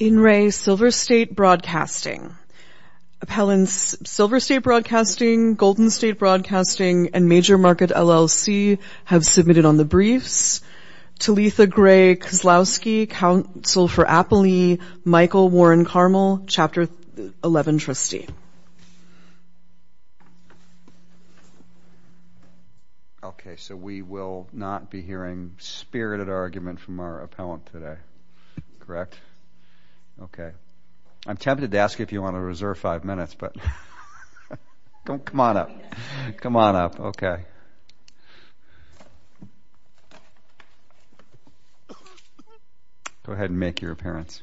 In re. Silver State Broadcasting. Appellants Silver State Broadcasting, Golden State Broadcasting, and Major Market, LLC have submitted on the briefs. Talitha Gray Kozlowski, Counsel for Appalee, Michael Warren Carmel, Chapter 11 Trustee. Okay, so we will not be hearing spirited argument from our appellant today. Correct? Okay. I'm tempted to ask you if you want to reserve five minutes, but come on up. Come on up. Okay. Go ahead and make your appearance.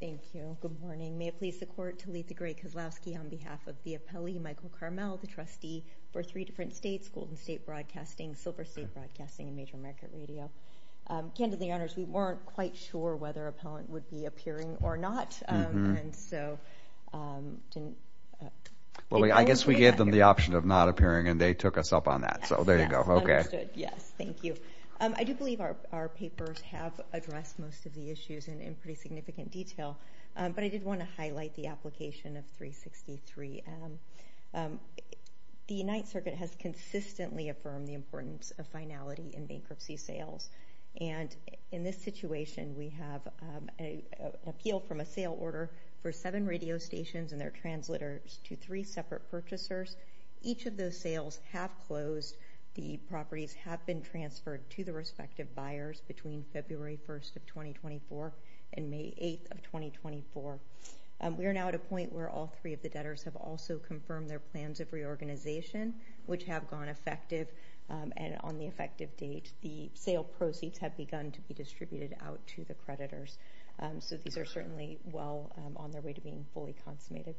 Thank you. Good morning. May it please the Court, Talitha Gray Kozlowski on behalf of the appellee, Michael Carmel, the trustee for three different states, Golden State Broadcasting, Silver State Broadcasting, and Major Market Radio. Candidly, we weren't quite sure whether appellant would be appearing or not. I guess we gave them the option of not appearing, and they took us up on that. So there you go. Okay. Yes, thank you. I do believe our papers have addressed most of the issues in pretty significant detail, but I did want to highlight the application of 363M. The United Circuit has consistently affirmed the importance of finality in bankruptcy sales. And in this situation, we have an appeal from a sale order for seven radio stations and their translators to three separate purchasers. Each of those sales have closed. The properties have been transferred to the respective buyers between February 1st of 2024 and May 8th of 2024. We are now at a point where all three of the debtors have also confirmed their plans of organization, which have gone effective. And on the effective date, the sale proceeds have begun to be distributed out to the creditors. So these are certainly well on their way to being fully consummated.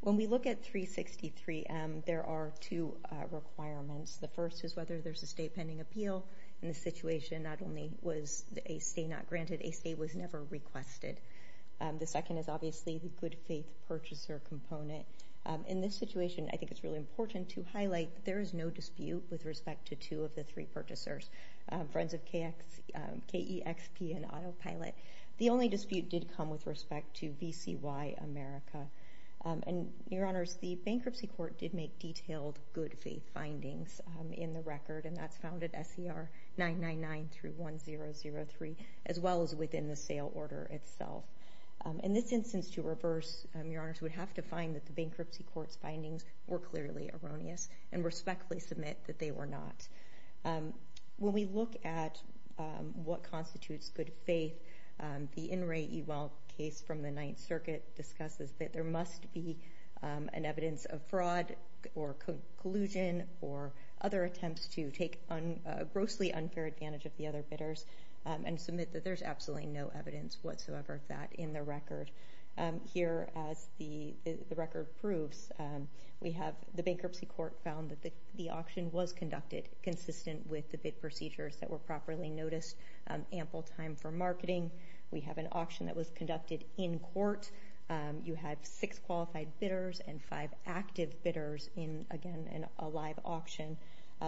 When we look at 363M, there are two requirements. The first is whether there's a state pending appeal. In this situation, not only was a stay not granted, a stay was never requested. The second is obviously the good-faith purchaser component. In this situation, I think it's really important to highlight that there is no dispute with respect to two of the three purchasers, Friends of KEXP and Autopilot. The only dispute did come with respect to BCY America. And, Your Honors, the Bankruptcy Court did make detailed good-faith findings in the record, and that's found at SCR 999 through 1003, as well as within the sale order itself. In this instance, to reverse, Your Honors, we would have to find that the Bankruptcy Court's findings were clearly erroneous and respectfully submit that they were not. When we look at what constitutes good-faith, the In re Eval case from the Ninth Circuit discusses that there must be an evidence of fraud or collusion or other attempts to take a grossly unfair advantage of the other bidders and submit that there's absolutely no evidence whatsoever of that in the record. Here, as the record proves, the Bankruptcy Court found that the auction was conducted consistent with the bid procedures that were properly noticed, ample time for marketing. We have an auction that was conducted in court. You had six qualified bidders and five active bidders in, again, a live auction.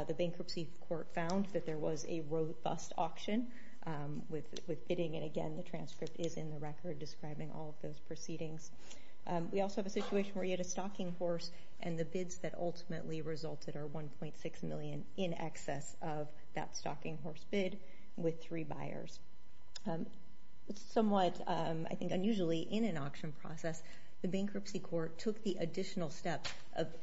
The Bankruptcy Court found that there was a robust auction with bidding, and again, the transcript is in the record describing all of those proceedings. We also have a situation where you had a stocking horse and the bids that ultimately resulted are 1.6 million in excess of that stocking horse bid with three buyers. It's somewhat, I think, unusually in an auction process, the Bankruptcy Court took the additional step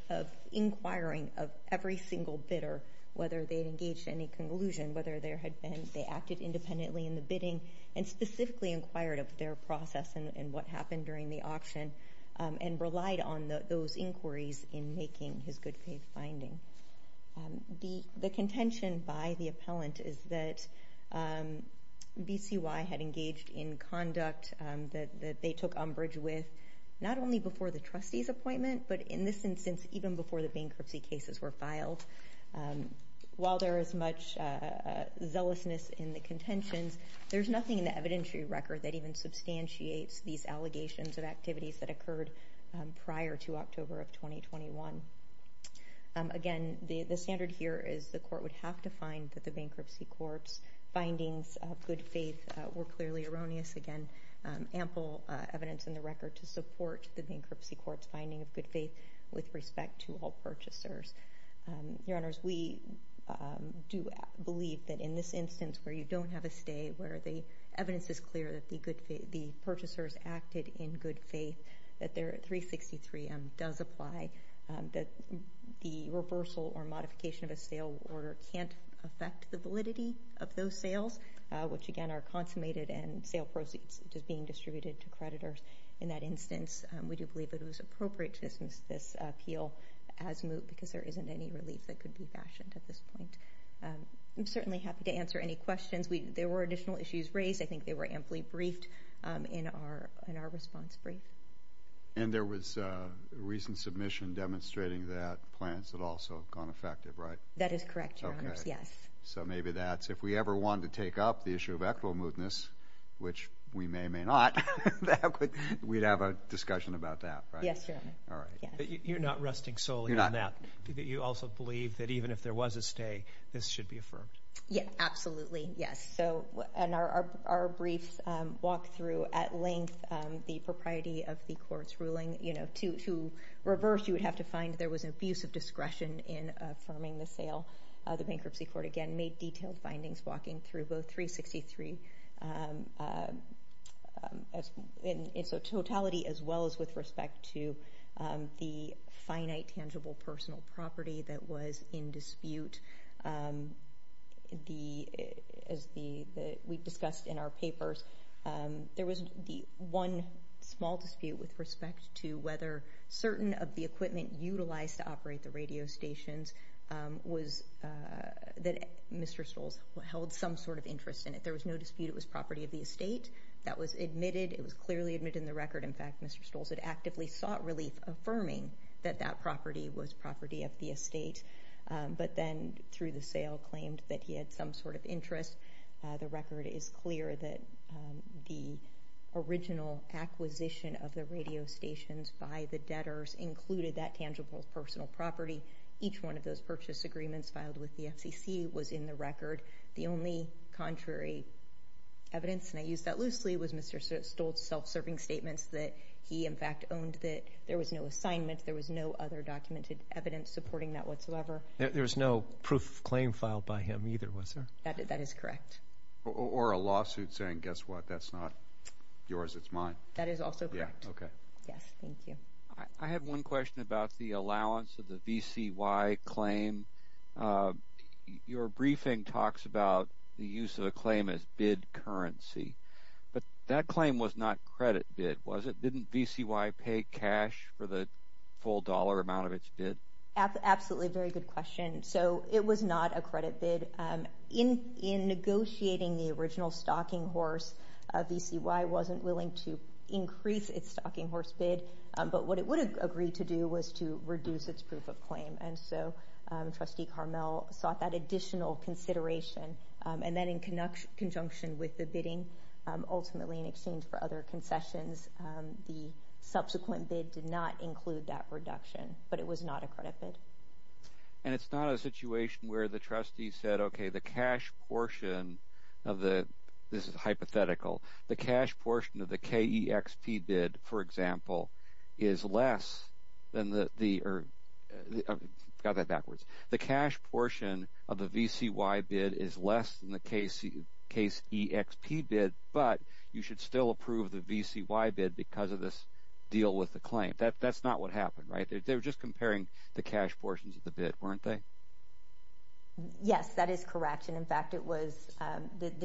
of inquiring of every single bidder, whether they'd engaged any collusion, whether there had been... They acted independently in the bidding and specifically inquired of their process and what happened during the auction, and relied on those inquiries in making his good faith finding. The contention by the appellant is that BCY had engaged in conduct that they took umbrage with not only before the trustee's appointment, but in this instance, even before the bankruptcy cases were filed. While there is much zealousness in the contentions, there's nothing in the evidentiary record that even substantiates these allegations of activities that occurred prior to October of 2021. Again, the standard here is the court would have to find that the Bankruptcy Court's findings of good faith were clearly erroneous. Again, ample evidence in the record to support the Bankruptcy Court's finding of good faith with respect to all purchasers. Your Honors, we do believe that in this instance where you don't have a stay, where the evidence is clear that the purchasers acted in good faith, that their 363M does apply, that the reversal or modification of a sale order can't affect the validity of those sales, which again are consummated and sale proceeds just being distributed to creditors. In that instance, we do believe that it was appropriate to use this appeal as moot because there isn't any relief that could be fashioned at this point. I'm certainly happy to answer any questions. There were additional issues raised. I think they were amply briefed in our response brief. And there was a recent submission demonstrating that plans had also gone effective, right? That is correct, Your Honors, yes. So maybe that's... If we ever wanted to take up the issue of equitable mootness, which we may or may not, we'd have a discussion about that, right? Yes, Your Honor. Alright. You're not resting solely on that. You're not. You also believe that even if there was a stay, this should be affirmed? Yes, absolutely. Yes. So, and our brief walk through at length, the propriety of the court's ruling. To reverse, you would have to find there was an abuse of discretion in affirming the sale. The Bankruptcy Court, again, made detailed findings walking through both 363, and so totality as well as with respect to the finite, tangible personal property that was in dispute. As we discussed in our papers, there was the one small dispute with respect to whether certain of the equipment utilized to operate the radio stations was... That Mr. Stolz held some sort of interest in it. There was no dispute it was property of the estate. That was admitted. It was clearly admitted in the record. In fact, Mr. Stolz had actively sought relief affirming that that property was property of the estate, but then through the sale, claimed that he had some sort of interest. The record is clear that the original acquisition of the radio stations by the debtors included that tangible personal property. Each one of those purchase agreements filed with the FCC was in the record. The only contrary evidence, and I use that loosely, was Mr. Stolz's self serving statements that he, in fact, owned that there was no assignment, there was no other documented evidence supporting that whatsoever. There was no proof of claim filed by him either, was there? That is correct. Or a lawsuit saying, guess what, that's not yours, it's mine. That is also correct. Yeah, okay. Yes, thank you. I have one question about the allowance of the VCY claim. Your briefing talks about the use of a claim as bid currency, but that claim was not credit bid, was it? Didn't VCY pay cash for the full dollar amount of its bid? Absolutely, very good question. So it was not a credit bid. In negotiating the original stocking horse, VCY wasn't willing to increase its stocking horse bid, but what it would have agreed to do was to reduce its proof of claim. And so, Trustee Carmel sought that additional consideration. And then in conjunction with the bidding, ultimately in exchange for other concessions, the subsequent bid did not include that reduction, but it was not a credit bid. And it's not a situation where the trustee said, okay, the cash portion of the... This is hypothetical. The cash portion of the KEXP bid, for example, is less than the... Got that backwards. The cash portion of the VCY bid is less than the KEXP bid, but you should still approve the VCY bid because of this deal with the claim. That's not what happened, right? They were just comparing the cash portions of the bid, weren't they? Yes, that is correct. And in fact, the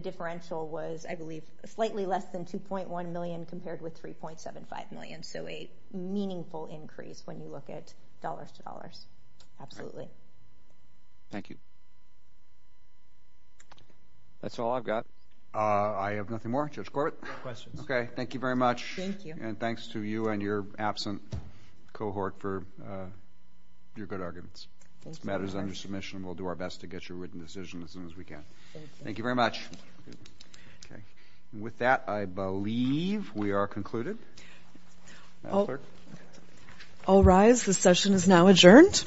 differential was, I believe, slightly less than 2.1 million compared with 3.75 million, so a meaningful increase when you look at dollars to dollars, absolutely. Thank you. That's all I've got. I have nothing more. Judge Corbett? No questions. Okay. Thank you very much. Thank you. And thanks to you and your absent cohort for your good arguments. This matter is under submission. We'll do our best to get your written decision as soon as we can. Thank you very much. Okay. And with that, I believe we are concluded. All rise. The session is now adjourned.